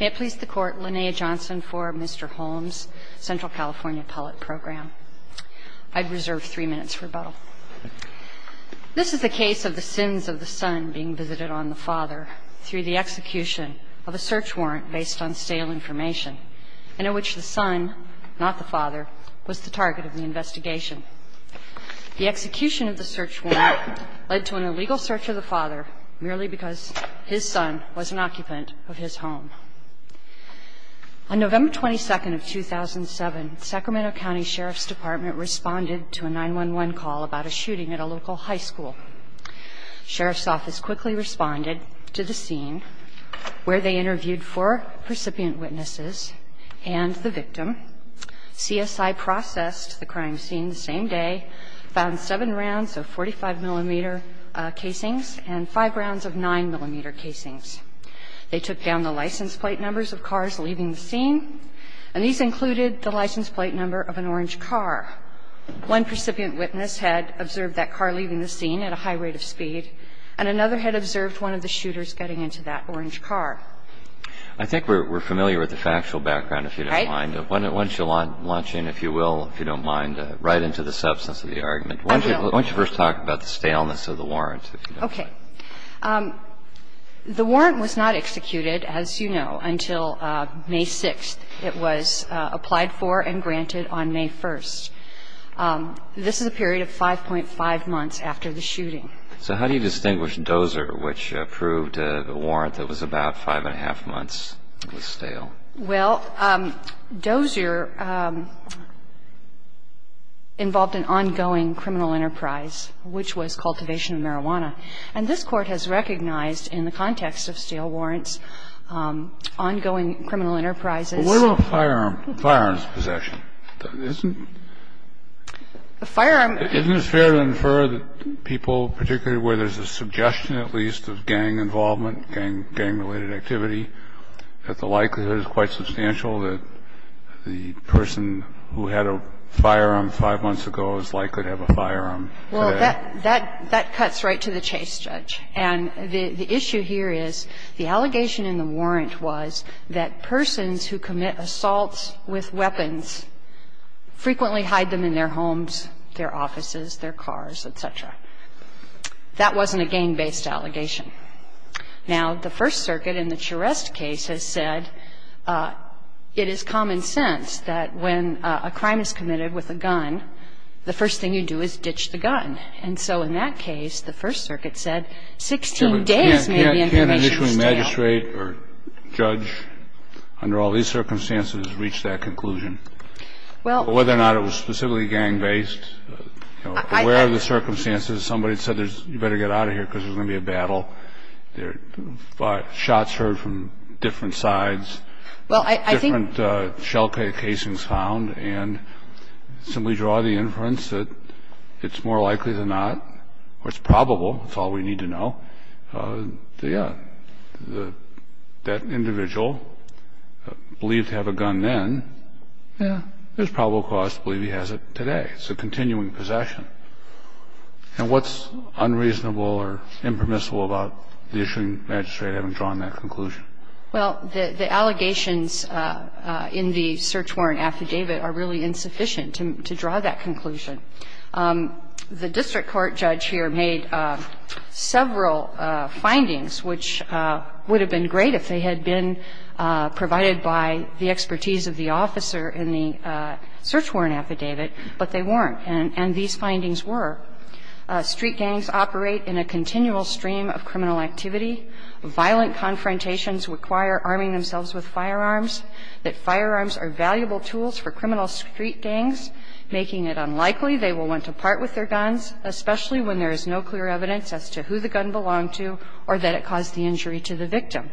May it please the Court, Linnea Johnson for Mr. Holmes, Central California Appellate Program. I'd reserve three minutes for rebuttal. This is the case of the sins of the son being visited on the father through the execution of a search warrant based on stale information and in which the son, not the father, was the target of the investigation. The execution of the search warrant led to an illegal search of the father merely because his son was an occupant of his home. On November 22nd of 2007, Sacramento County Sheriff's Department responded to a 911 call about a shooting at a local high school. Sheriff's Office quickly responded to the scene where they interviewed four percipient witnesses and the victim, CSI processed the crime scene the same day, found seven rounds of 45-millimeter casings and five rounds of 9-millimeter casings. They took down the license plate numbers of cars leaving the scene, and these included the license plate number of an orange car. One percipient witness had observed that car leaving the scene at a high rate of speed, and another had observed one of the shooters getting into that orange car. I think we're familiar with the factual background, if you don't mind. Right. Once you launch in, if you will, if you don't mind, right into the substance of the argument. I will. Why don't you first talk about the staleness of the warrant, if you don't mind. Okay. The warrant was not executed, as you know, until May 6th. It was applied for and granted on May 1st. This is a period of 5.5 months after the shooting. So how do you distinguish Dozer, which proved a warrant that was about 5-1⁄2 months was stale? Well, Dozer involved an ongoing criminal enterprise, which was cultivation of marijuana. And this Court has recognized in the context of stale warrants ongoing criminal enterprises. But what about firearms possession? Isn't it fair to infer that people, particularly where there's a suggestion at least of gang involvement, gang-related activity, that the likelihood is quite substantial that the person who had a firearm 5 months ago is likely to have a firearm today? Well, that cuts right to the chase, Judge. And the issue here is the allegation in the warrant was that persons who commit assaults with weapons frequently hide them in their homes, their offices, their cars, et cetera. That wasn't a gang-based allegation. Now, the First Circuit in the Charest case has said it is common sense that when a crime is committed with a gun, the first thing you do is ditch the gun. And so in that case, the First Circuit said 16 days may be information stale. Can an issuing magistrate or judge under all these circumstances reach that conclusion? Well — Well, I think that, you know, I'm not sure whether or not it was specifically gang-based. Where are the circumstances? Somebody said you'd better get out of here because there's going to be a battle. Shots heard from different sides. Well, I think — Different shell casings found. And simply draw the inference that it's more likely than not or it's probable, that's all we need to know. Yeah. That individual believed to have a gun then. Yeah. There's probable cause to believe he has it today. It's a continuing possession. And what's unreasonable or impermissible about the issuing magistrate having drawn that conclusion? Well, the allegations in the search warrant affidavit are really insufficient to draw that conclusion. The district court judge here made several findings which would have been great if they had been provided by the expertise of the officer in the search warrant affidavit, but they weren't. And these findings were street gangs operate in a continual stream of criminal activity, violent confrontations require arming themselves with firearms, that firearms are valuable tools for criminal street gangs, making it unlikely they will want to part with their guns, especially when there is no clear evidence as to who the gun belonged to or that it caused the injury to the victim.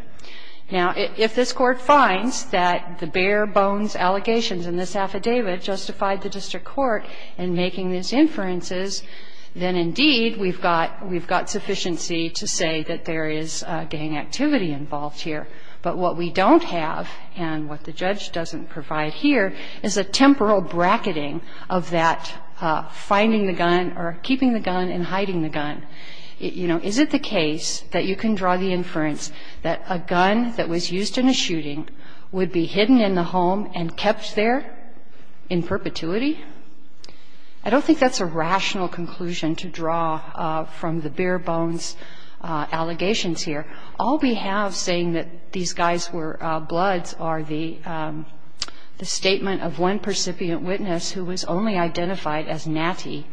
Now, if this Court finds that the bare-bones allegations in this affidavit justified the district court in making these inferences, then, indeed, we've got — we've got sufficiency to say that there is gang activity involved here. But what we don't have and what the judge doesn't provide here is a temporal bracketing of that finding the gun or keeping the gun and hiding the gun. You know, is it the case that you can draw the inference that a gun that was used in a shooting would be hidden in the home and kept there in perpetuity? I don't think that's a rational conclusion to draw from the bare-bones allegations here. All we have saying that these guys were bloods are the statement of one percipient witness who was only identified as Natty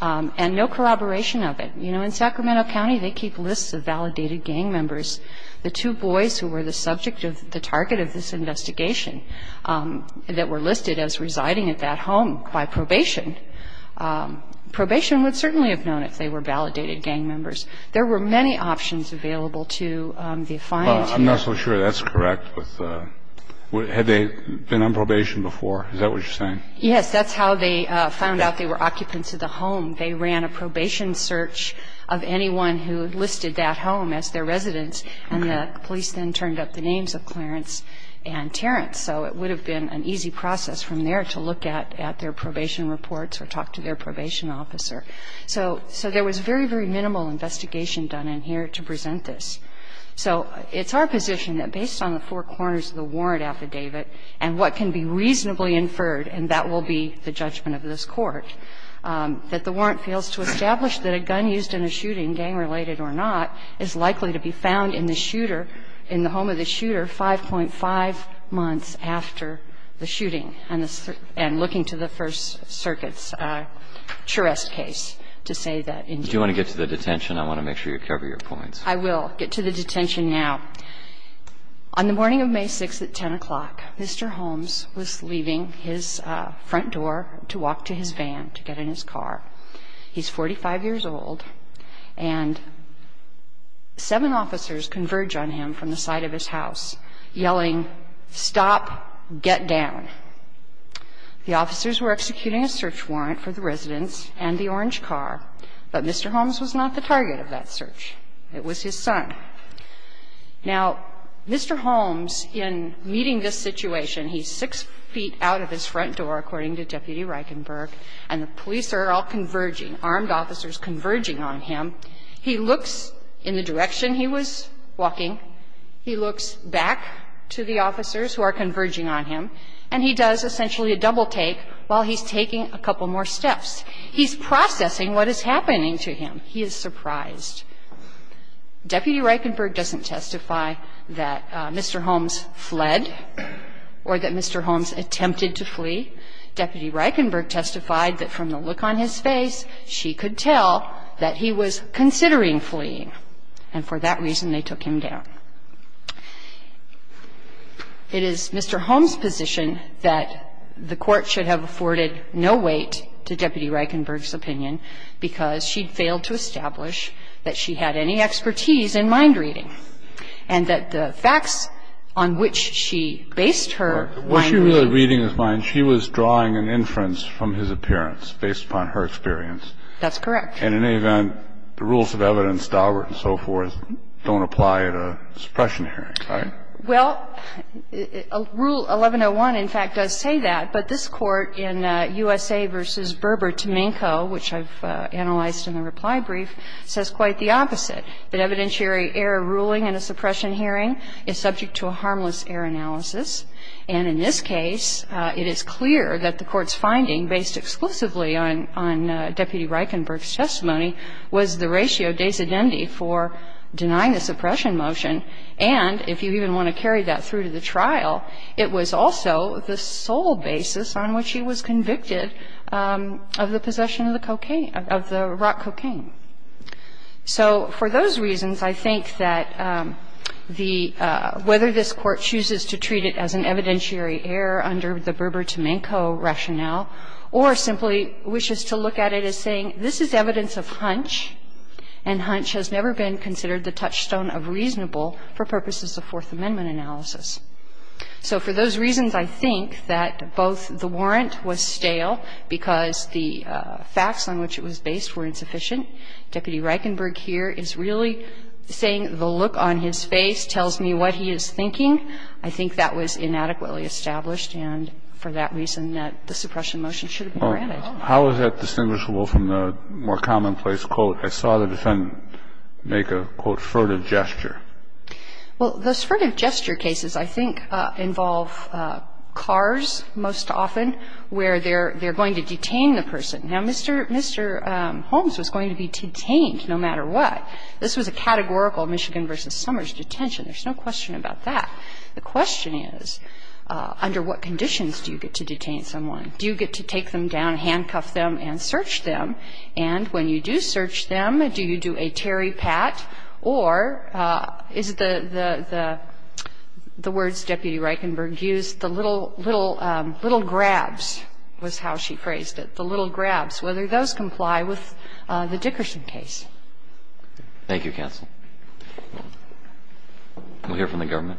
and no collaboration of it. You know, in Sacramento County, they keep lists of validated gang members. The two boys who were the subject of the target of this investigation that were listed as residing at that home by probation, probation would certainly have known if they were validated gang members. There were many options available to the defiant here. Well, I'm not so sure that's correct with — had they been on probation before? Is that what you're saying? Yes. That's how they found out they were occupants of the home. They ran a probation search of anyone who listed that home as their residence, and the police then turned up the names of Clarence and Terrence. So it would have been an easy process from there to look at their probation reports or talk to their probation officer. So there was very, very minimal investigation done in here to present this. So it's our position that based on the four corners of the warrant affidavit and what can be reasonably inferred, and that will be the judgment of this Court, that the warrant fails to establish that a gun used in a shooting, gang-related or not, is likely to be found in the shooter, in the home of the shooter, 5.5 months after the shooting, and looking to the First Circuit's Charest case to say that. Do you want to get to the detention? I want to make sure you cover your points. I will get to the detention now. On the morning of May 6th at 10 o'clock, Mr. Holmes was leaving his front door to walk to his van to get in his car. He's 45 years old, and seven officers converge on him from the side of his house. Yelling, stop, get down. The officers were executing a search warrant for the residence and the orange car, but Mr. Holmes was not the target of that search. It was his son. Now, Mr. Holmes, in meeting this situation, he's six feet out of his front door, according to Deputy Reichenberg, and the police are all converging, armed officers converging on him. He looks in the direction he was walking. He looks back to the officers who are converging on him, and he does essentially a double-take while he's taking a couple more steps. He's processing what is happening to him. He is surprised. Deputy Reichenberg doesn't testify that Mr. Holmes fled or that Mr. Holmes attempted to flee. Deputy Reichenberg testified that from the look on his face, she could tell that he was considering fleeing, and for that reason, they took him down. It is Mr. Holmes' position that the Court should have afforded no weight to Deputy Reichenberg's opinion because she'd failed to establish that she had any expertise in mind reading and that the facts on which she based her mind reading. Kennedy, in her reading of his mind, she was drawing an inference from his appearance based upon her experience. That's correct. And in any event, the rules of evidence, Daubert and so forth, don't apply at a suppression hearing, right? Well, Rule 1101, in fact, does say that. But this Court in USA v. Berber-Tomenko, which I've analyzed in the reply brief, says quite the opposite, that evidentiary error ruling in a suppression hearing is subject to a harmless error analysis. And in this case, it is clear that the Court's finding, based exclusively on Deputy Reichenberg's testimony, was the ratio des indemni for denying the suppression motion, and if you even want to carry that through to the trial, it was also the sole basis on which he was convicted of the possession of the cocaine, of the rock cocaine. So for those reasons, I think that the – whether this Court chooses to treat it as an evidentiary error under the Berber-Tomenko rationale or simply wishes to look at it as saying this is evidence of hunch, and hunch has never been considered the touchstone of reasonable for purposes of Fourth Amendment analysis. So for those reasons, I think that both the warrant was stale because the facts on which it was based were insufficient. Deputy Reichenberg here is really saying the look on his face tells me what he is thinking. I think that was inadequately established, and for that reason, that the suppression motion should have been granted. Kennedy. How is that distinguishable from the more commonplace quote, I saw the defendant make a, quote, furtive gesture? Well, the furtive gesture cases, I think, involve cars most often, where they're going to detain the person. Now, Mr. Holmes was going to be detained no matter what. This was a categorical Michigan v. Summers detention. There's no question about that. The question is, under what conditions do you get to detain someone? Do you get to take them down, handcuff them, and search them? And when you do search them, do you do a terry pat or is the words Deputy Reichenberg used, the little, little, little grabs was how she phrased it, the little grabs, whether those comply with the Dickerson case? Thank you, counsel. We'll hear from the government.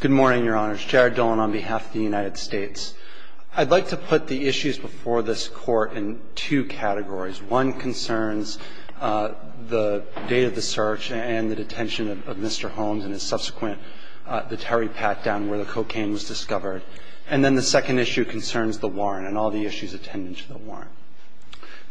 Good morning, Your Honors. Jared Dolan on behalf of the United States. I'd like to put the issues before this Court in two categories. One concerns the date of the search and the detention of Mr. Holmes and his subsequent the terry pat down where the cocaine was discovered. And then the second issue concerns the warrant and all the issues attendant to the warrant.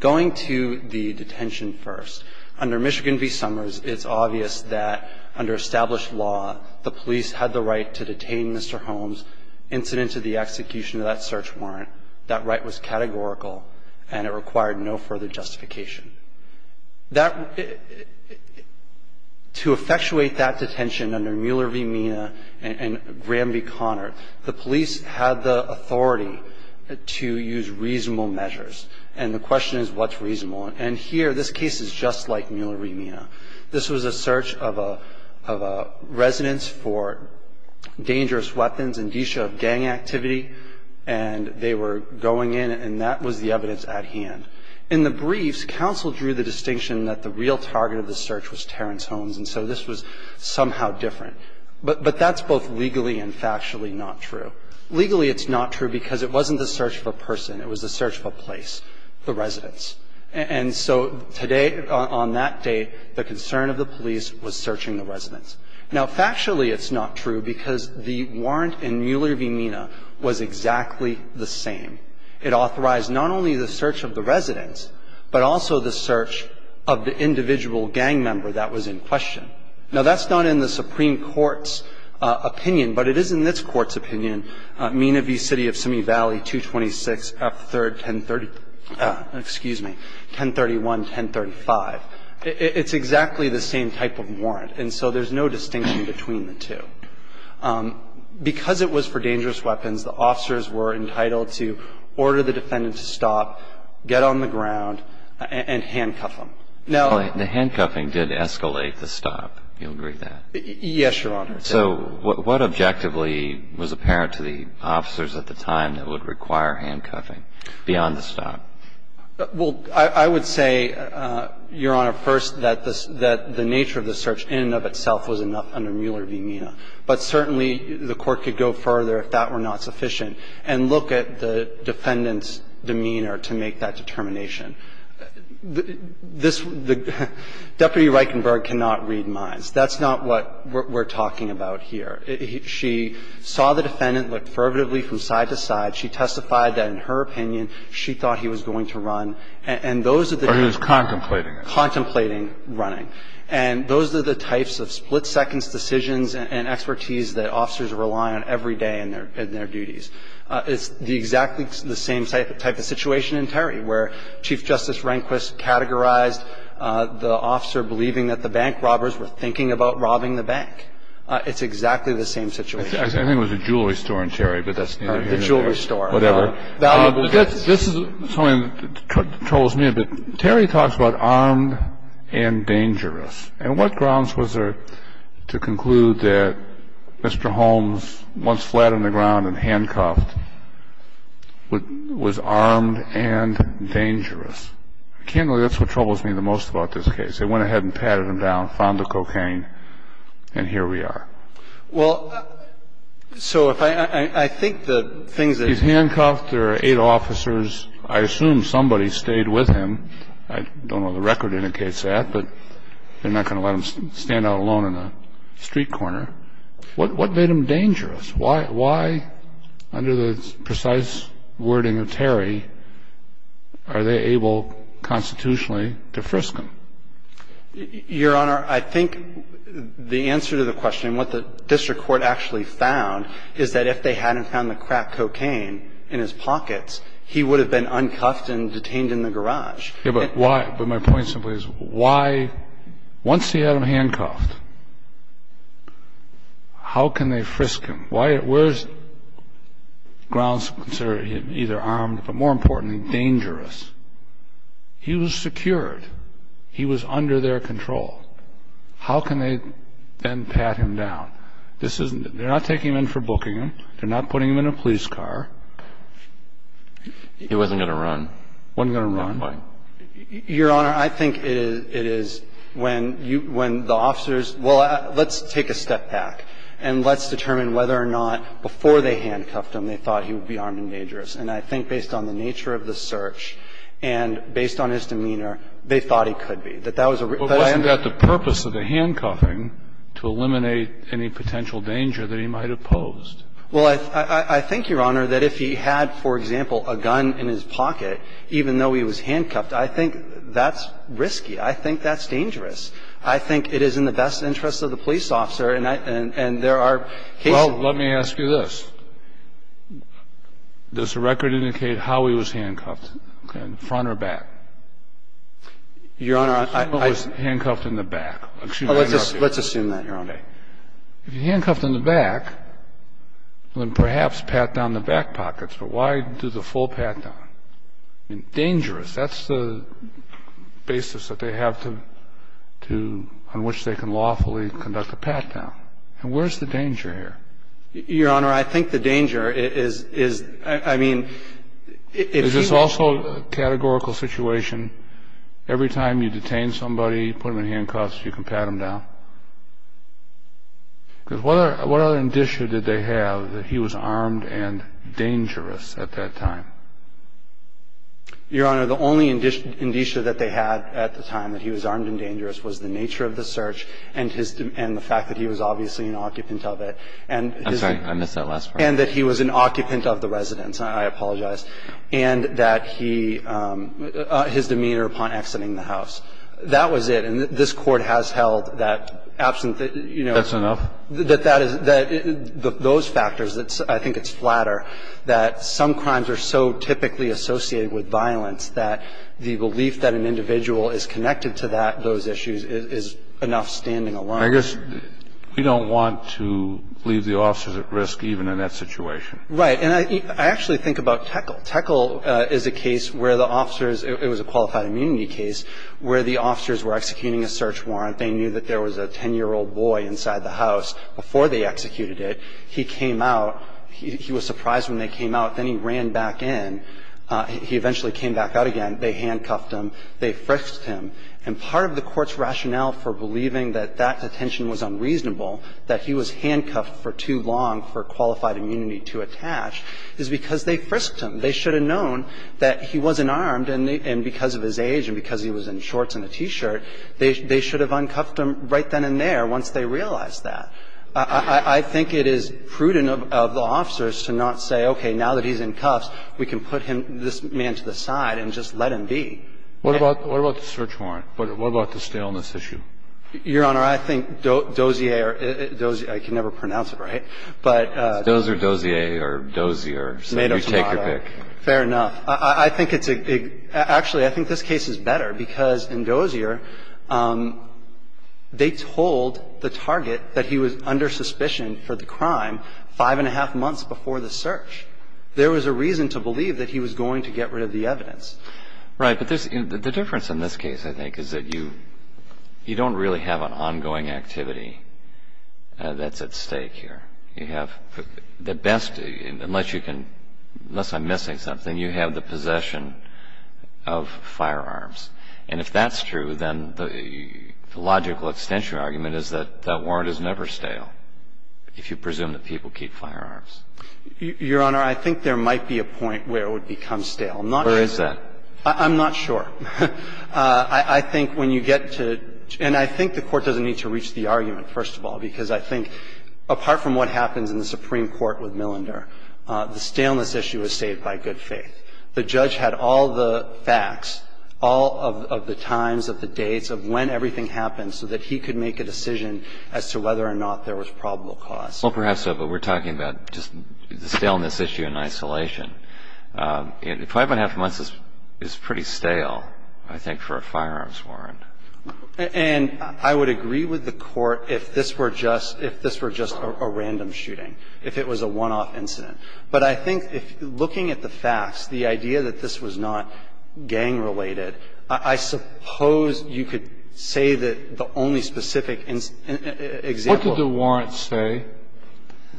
Going to the detention first, under Michigan v. Summers, it's obvious that under established law, the police had the right to detain Mr. Holmes, incident to the execution of that search warrant. That right was categorical and it required no further justification. To effectuate that detention under Mueller v. Mina and Gramby-Conner, the police had the authority to use reasonable measures. And the question is what's reasonable? I think the first thing that comes to mind is the search warrant. The search warrant was a search warrant for a residence in a residential area. This was a search of a residence for dangerous weapons, indicia of gang activity, and they were going in and that was the evidence at hand. In the briefs, counsel drew the distinction that the real target of the search was Terrence Holmes, and so this was somehow different. But that's both legally and factually not true. Legally, it's not true because it wasn't the search of a person. It was the search of a place, the residence. And so today, on that day, the concern of the police was searching the residence. Now, factually, it's not true because the warrant in Mueller v. Mina was exactly the same. It authorized not only the search of the residence, but also the search of the individual gang member that was in question. Now, that's not in the Supreme Court's opinion, but it is in this Court's opinion, Mina v. City of Simi Valley, 226 F 3rd, 1030, excuse me, 1031, 1035. It's exactly the same type of warrant, and so there's no distinction between the two. Because it was for dangerous weapons, the officers were entitled to order the defendant to stop, get on the ground, and handcuff them. Now the handcuffing did escalate the stop. Do you agree with that? Yes, Your Honor. So what objectively was apparent to the officers at the time that would require handcuffing beyond the stop? Well, I would say, Your Honor, first, that the nature of the search in and of itself was enough under Mueller v. Mina. But certainly, the Court could go further if that were not sufficient and look at the defendant's demeanor to make that determination. Deputy Reichenberg cannot read minds. That's not what we're talking about here. She saw the defendant, looked fervently from side to side. She testified that, in her opinion, she thought he was going to run. And those are the types of running. Or he was contemplating it. Contemplating running. And those are the types of split-seconds decisions and expertise that officers rely on every day in their duties. It's exactly the same type of situation in Terry where Chief Justice Rehnquist categorized the officer believing that the bank robbers were thinking about robbing the bank. It's exactly the same situation. I think it was a jewelry store in Terry, but that's neither here nor there. The jewelry store. Whatever. This is something that troubles me a bit. Terry talks about armed and dangerous. And what grounds was there to conclude that Mr. Holmes, once flat on the ground and handcuffed, was armed and dangerous? I can't believe that's what troubles me the most about this case. They went ahead and patted him down, found the cocaine, and here we are. Well, so if I think the things that he's handcuffed, there are eight officers. I assume somebody stayed with him. I don't know the record indicates that, but they're not going to let him stand out alone in a street corner. What made him dangerous? Why, under the precise wording of Terry, are they able constitutionally to frisk him? Your Honor, I think the answer to the question, what the district court actually found, is that if they hadn't found the cracked cocaine in his pockets, he would have been uncuffed and detained in the garage. But my point simply is, why, once he had him handcuffed, how can they frisk him? Where's grounds to consider him either armed, but more importantly, dangerous? He was secured. He was under their control. How can they then pat him down? They're not taking him in for booking him. They're not putting him in a police car. He wasn't going to run. He wasn't going to run. Your Honor, I think it is when you – when the officers – well, let's take a step back and let's determine whether or not before they handcuffed him they thought he would be armed and dangerous. And I think based on the nature of the search and based on his demeanor, they thought he could be. That that was a – But wasn't that the purpose of the handcuffing, to eliminate any potential danger that he might have posed? Well, I think, Your Honor, that if he had, for example, a gun in his pocket, even though he was handcuffed, I think that's risky. I think that's dangerous. I think it is in the best interest of the police officer, and there are cases – Well, let me ask you this. Does the record indicate how he was handcuffed? In front or back? Your Honor, I – He was handcuffed in the back. Let's assume that, Your Honor. If he was handcuffed in the back, then perhaps pat down the back pockets. But why do the full pat-down? I mean, dangerous. That's the basis that they have to – on which they can lawfully conduct a pat-down. And where's the danger here? Your Honor, I think the danger is – is – I mean, if he was – Is this also a categorical situation? Every time you detain somebody, put them in handcuffs, you can pat them down? Because what other indicia did they have that he was armed and dangerous at that time? Your Honor, the only indicia that they had at the time that he was armed and dangerous was the nature of the search and his – and the fact that he was obviously an occupant of it. And his – I'm sorry. I missed that last part. And that he was an occupant of the residence. I apologize. And that he – his demeanor upon exiting the house. That was it. Your Honor, I think the danger here is – is – is that there's a lack of evidence. And this Court has held that absent the – you know. That's enough? That that is – that those factors, I think it's flatter, that some crimes are so typically associated with violence that the belief that an individual is connected to that – those issues is enough standing alone. I guess we don't want to leave the officers at risk even in that situation. Right. And I actually think about Tekel. Tekel is a case where the officers – it was a qualified immunity case where the officers were executing a search warrant. They knew that there was a 10-year-old boy inside the house before they executed it. He came out. He was surprised when they came out. Then he ran back in. He eventually came back out again. They handcuffed him. They frisked him. And part of the Court's rationale for believing that that detention was unreasonable, that he was handcuffed for too long for qualified immunity to attach, is because they frisked him. They should have known that he wasn't armed, and because of his age and because he was in shorts and a T-shirt, they should have uncuffed him right then and there once they realized that. I think it is prudent of the officers to not say, okay, now that he's in cuffs, we can put him – this man to the side and just let him be. What about the search warrant? What about the staleness issue? Your Honor, I think Dozier – I can never pronounce it right, but – It's Dozer, Dozier, or Dozier. So you take your pick. Fair enough. I think it's – actually, I think this case is better because in Dozier, they told the target that he was under suspicion for the crime five and a half months before the search. There was a reason to believe that he was going to get rid of the evidence. Right. But the difference in this case, I think, is that you don't really have an ongoing activity that's at stake here. You have the best – unless you can – unless I'm missing something, you have the possession of firearms. And if that's true, then the logical extension argument is that that warrant is never stale if you presume that people keep firearms. Your Honor, I think there might be a point where it would become stale. I'm not sure. Where is that? I'm not sure. I think when you get to – and I think the Court doesn't need to reach the argument, first of all, because I think, apart from what happens in the Supreme Court with Millender, the staleness issue is saved by good faith. The judge had all the facts, all of the times, of the dates, of when everything happened so that he could make a decision as to whether or not there was probable cause. Well, perhaps so, but we're talking about just the staleness issue in isolation. Five and a half months is pretty stale, I think, for a firearms warrant. And I would agree with the Court if this were just – if this were just a random shooting, if it was a one-off incident. But I think if – looking at the facts, the idea that this was not gang-related, I suppose you could say that the only specific example of – What did the warrant say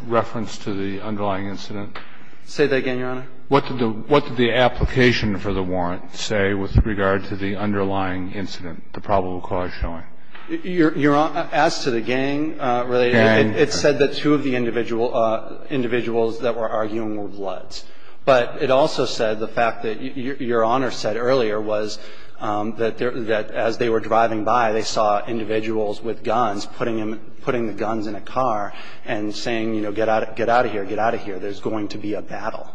in reference to the underlying incident? Say that again, Your Honor. What did the – what did the application for the warrant say with regard to the underlying incident, the probable cause showing? Your Honor, as to the gang-related, it said that two of the individual – individuals that were arguing were bloods. But it also said the fact that – Your Honor said earlier was that there – that as they were driving by, they saw individuals with guns putting them – putting the guns in a car and saying, you know, get out of here, get out of here. There's going to be a battle.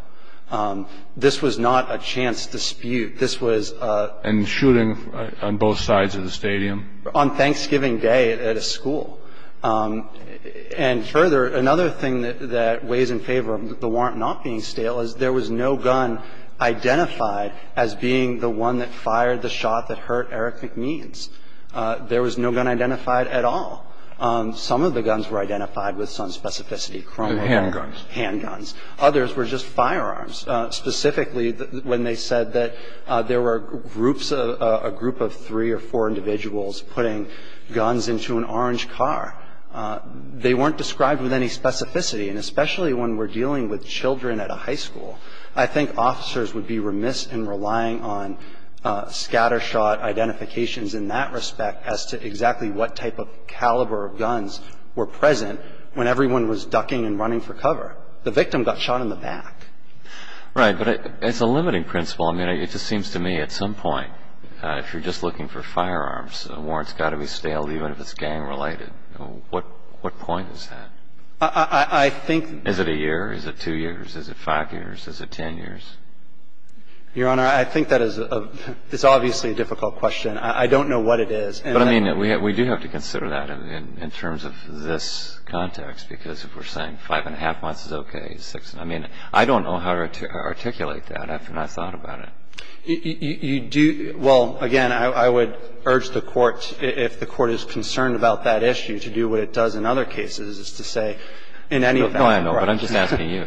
This was not a chance dispute. This was a – And shooting on both sides of the stadium? On Thanksgiving Day at a school. And further, another thing that – that weighs in favor of the warrant not being stale is there was no gun identified as being the one that fired the shot that hurt Eric McMeans. There was no gun identified at all. Some of the guns were identified with some specificity. Some of them were just basic chromo… Handguns. Handguns. Others were just firearms. Specifically, when they said that there were groups of – a group of three or four individuals putting guns into an orange car, they weren't described with any specificity. And especially when we're dealing with children at a high school. I think officers would be remiss in relying on scattershot identifications in that respect as to exactly what type of caliber of guns were present when everyone was ducking and running for cover. The victim got shot in the back. Right. But it's a limiting principle. I mean, it just seems to me at some point, if you're just looking for firearms, a warrant's got to be stale, even if it's gang-related. What point is that? I think… Is it a year? Is it two years? Is it five years? Is it ten years? Your Honor, I think that is a – it's obviously a difficult question. I don't know what it is. But I mean, we do have to consider that in terms of this context, because if we're saying five-and-a-half months is okay, six – I mean, I don't know how to articulate that after I've thought about it. You do – well, again, I would urge the Court, if the Court is concerned about that issue, to do what it does in other cases, is to say in any… No, I know. But I'm just asking you.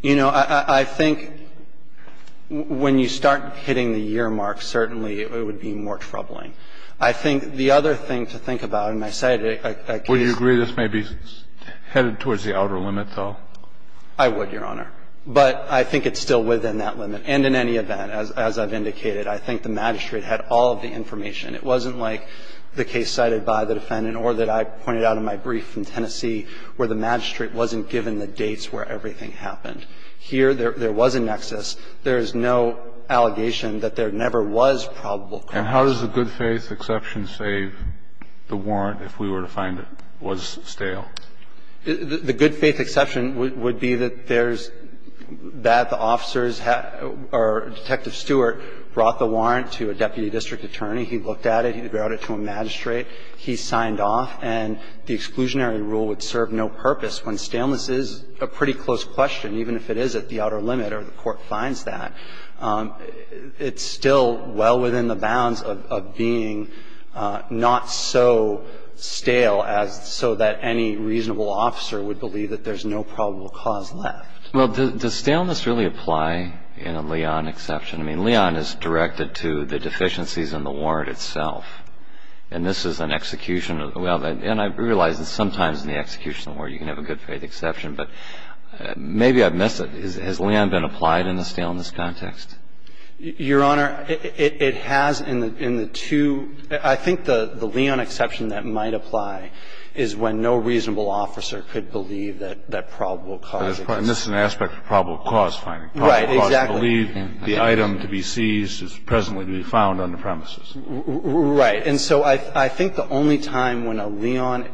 You know, I think when you start hitting the year mark, certainly it would be more troubling. I think the other thing to think about, and I cited a case… Would you agree this may be headed towards the outer limit, though? I would, Your Honor. But I think it's still within that limit. And in any event, as I've indicated, I think the magistrate had all of the information. It wasn't like the case cited by the defendant or that I pointed out in my brief in Tennessee where the magistrate wasn't given the dates where everything happened. Here, there was a nexus. There is no allegation that there never was probable cause. And how does the good-faith exception save the warrant if we were to find it was stale? The good-faith exception would be that there's – that the officers or Detective Stewart brought the warrant to a deputy district attorney. He looked at it. He brought it to a magistrate. He signed off. And the exclusionary rule would serve no purpose when staleness is a pretty close question, even if it is at the outer limit or the court finds that. It's still well within the bounds of being not so stale as – so that any reasonable officer would believe that there's no probable cause left. Well, does staleness really apply in a Leon exception? I mean, Leon is directed to the deficiencies in the warrant itself. And this is an execution of – and I realize that sometimes in the execution of a warrant you can have a good-faith exception. But maybe I've missed it. Has Leon been applied in the staleness context? Your Honor, it has in the two – I think the Leon exception that might apply is when no reasonable officer could believe that probable cause exists. And this is an aspect of probable cause finding. Right, exactly. I believe the item to be seized is presently to be found on the premises. Right. And so I think the only time when a Leon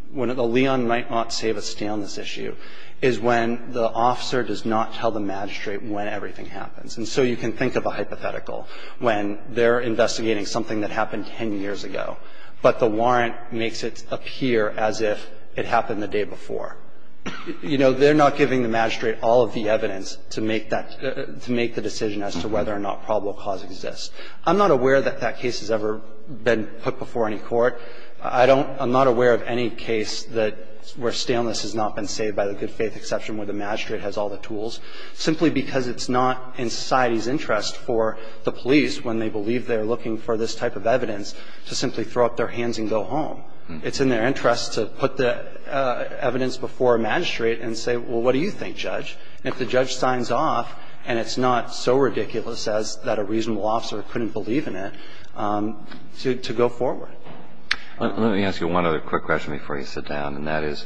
– when a Leon might not save a staleness issue is when the officer does not tell the magistrate when everything happens. And so you can think of a hypothetical when they're investigating something that happened 10 years ago, but the warrant makes it appear as if it happened the day before. You know, they're not giving the magistrate all of the evidence to make that – to make the decision as to whether or not probable cause exists. I'm not aware that that case has ever been put before any court. I don't – I'm not aware of any case that – where staleness has not been saved by the good-faith exception where the magistrate has all the tools, simply because it's not in society's interest for the police, when they believe they're looking for this type of evidence, to simply throw up their hands and go home. It's in their interest to put the evidence before a magistrate and say, well, what do you think, Judge? And if the judge signs off and it's not so ridiculous as that a reasonable officer couldn't believe in it, to go forward. Let me ask you one other quick question before you sit down, and that is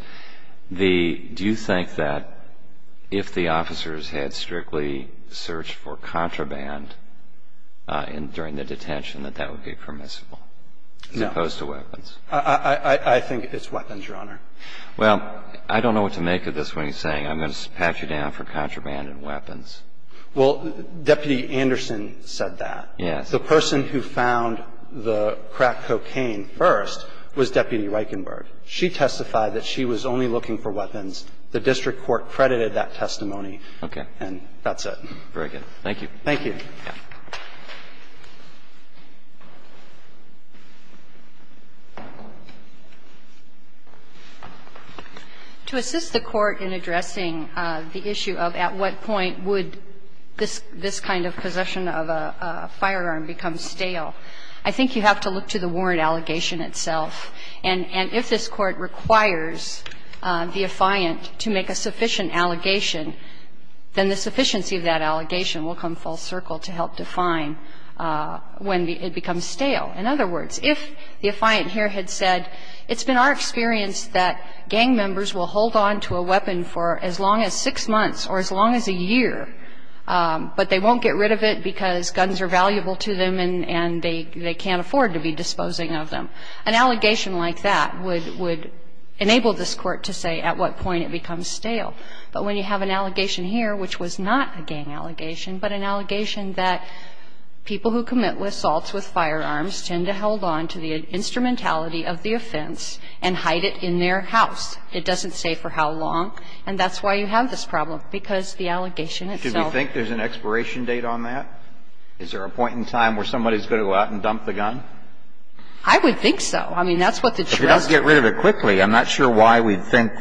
the – do you think that if the officers had strictly searched for contraband during the detention, that that would be permissible as opposed to weapons? I think it's weapons, Your Honor. Well, I don't know what to make of this, what he's saying. I'm going to pat you down for contraband and weapons. Well, Deputy Anderson said that. Yes. The person who found the crack cocaine first was Deputy Reichenberg. She testified that she was only looking for weapons. The district court credited that testimony. Okay. And that's it. Very good. Thank you. Thank you. To assist the Court in addressing the issue of at what point would this kind of possession of a firearm become stale, I think you have to look to the warrant allegation itself. And if this Court requires the affiant to make a sufficient allegation, then the sufficiency of that allegation will come full circle to help define when it becomes stale. In other words, if the affiant here had said, it's been our experience that gang members will hold on to a weapon for as long as six months or as long as a year, but they won't get rid of it because guns are valuable to them and they can't afford to be disposing of them, an allegation like that would enable this Court to say at what point it becomes stale. But when you have an allegation here, which was not a gang allegation, but an allegation that people who commit assaults with firearms tend to hold on to the instrumentality of the offense and hide it in their house, it doesn't say for how long. And that's why you have this problem, because the allegation itself. Do you think there's an expiration date on that? Is there a point in time where somebody is going to go out and dump the gun? I would think so. I mean, that's what the jurisdiction. If they don't get rid of it quickly. I'm not sure why we'd think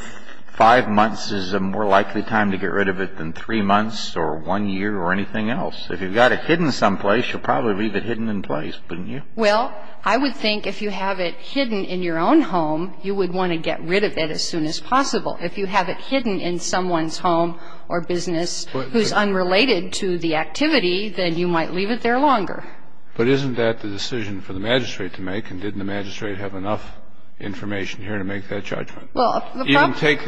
five months is a more likely time to get rid of it than three months or one year or anything else. If you've got it hidden someplace, you'll probably leave it hidden in place, wouldn't you? Well, I would think if you have it hidden in your own home, you would want to get rid of it as soon as possible. If you have it hidden in someone's home or business who's unrelated to the activity, then you might leave it there longer. But isn't that the decision for the magistrate to make? And didn't the magistrate have enough information here to make that judgment? Even take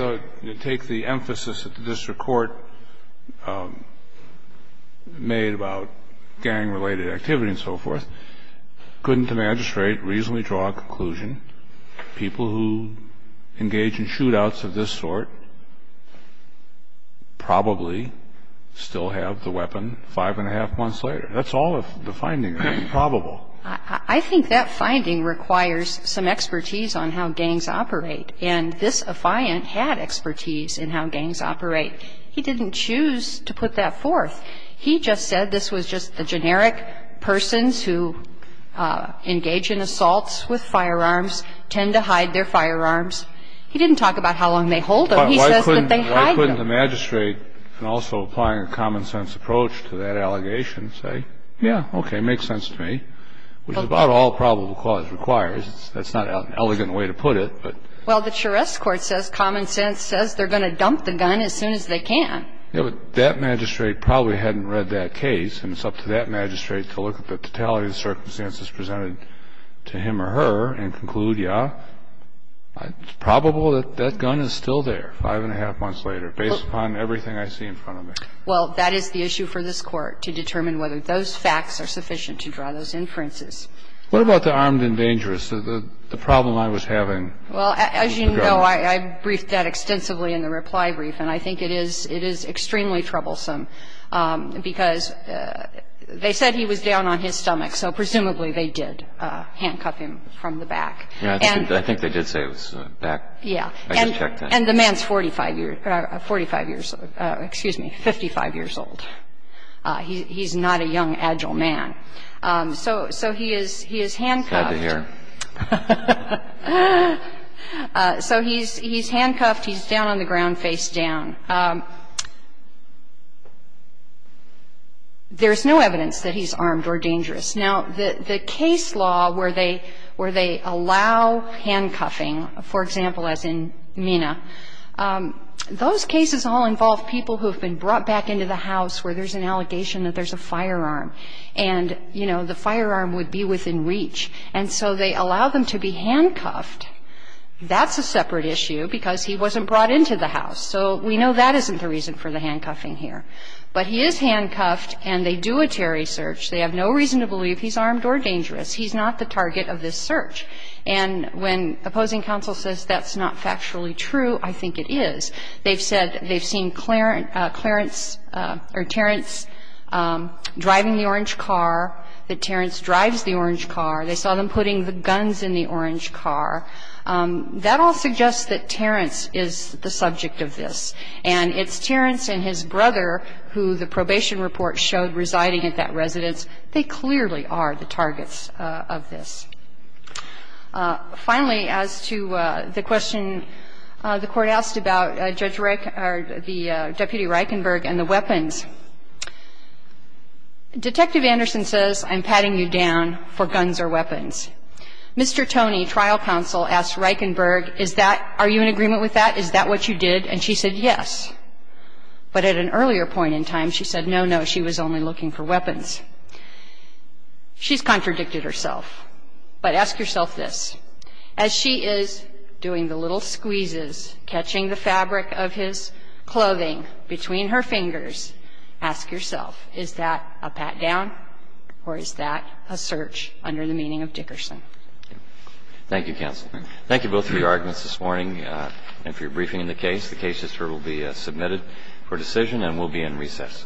the emphasis that the district court made about gang-related activity and so forth. Couldn't the magistrate reasonably draw a conclusion, people who engage in shootouts of this sort probably still have the weapon five and a half months later? That's all of the findings. It's improbable. I think that finding requires some expertise on how gangs operate. And this affiant had expertise in how gangs operate. He didn't choose to put that forth. He just said this was just the generic persons who engage in assaults with firearms, tend to hide their firearms. He didn't talk about how long they hold them. He says that they hide them. Why couldn't the magistrate, in also applying a common-sense approach to that allegation, say, yeah, okay, makes sense to me, which is about all probable cause requires. That's not an elegant way to put it. Well, the Charest court says common sense says they're going to dump the gun as soon as they can. Yeah, but that magistrate probably hadn't read that case. And it's up to that magistrate to look at the totality of the circumstances presented to him or her and conclude, yeah, it's probable that that gun is still there five and a half months later, based upon everything I see in front of me. Well, that is the issue for this Court, to determine whether those facts are sufficient to draw those inferences. What about the armed and dangerous, the problem I was having with the gun? Well, as you know, I briefed that extensively in the reply brief, and I think it is extremely troublesome because they said he was down on his stomach, so presumably they did handcuff him from the back. I think they did say it was back. Yeah. And the man's 45 years, 45 years, excuse me, 55 years old. He's not a young, agile man. So he is handcuffed. So he's handcuffed. He's down on the ground face down. There's no evidence that he's armed or dangerous. Now, the case law where they allow handcuffing, for example, as in Mina, those cases all involve people who have been brought back into the house where there's an allegation that there's a firearm, and, you know, the firearm would be within reach. And so they allow them to be handcuffed. That's a separate issue because he wasn't brought into the house. So we know that isn't the reason for the handcuffing here. But he is handcuffed, and they do a Terry search. They have no reason to believe he's armed or dangerous. He's not the target of this search. And when opposing counsel says that's not factually true, I think it is. They've said they've seen Clarence or Terrence driving the orange car, that Terrence drives the orange car. They saw them putting the guns in the orange car. That all suggests that Terrence is the subject of this, and it's Terrence and his brother who the probation report showed residing at that residence. They clearly are the targets of this. Finally, as to the question the Court asked about Judge Reichen or the Deputy Reichenberg and the weapons, Detective Anderson says, I'm patting you down for guns or weapons. Mr. Toney, trial counsel, asked Reichenberg, is that, are you in agreement with that? Is that what you did? And she said yes. But at an earlier point in time, she said no, no, she was only looking for weapons. She's contradicted herself. But ask yourself this. As she is doing the little squeezes, catching the fabric of his clothing between her fingers, ask yourself, is that a pat down or is that a search under the meaning of Dickerson? Thank you, counsel. Thank you both for your arguments this morning. And if you're briefing in the case, the case will be submitted for decision and will be in recess. Thank you.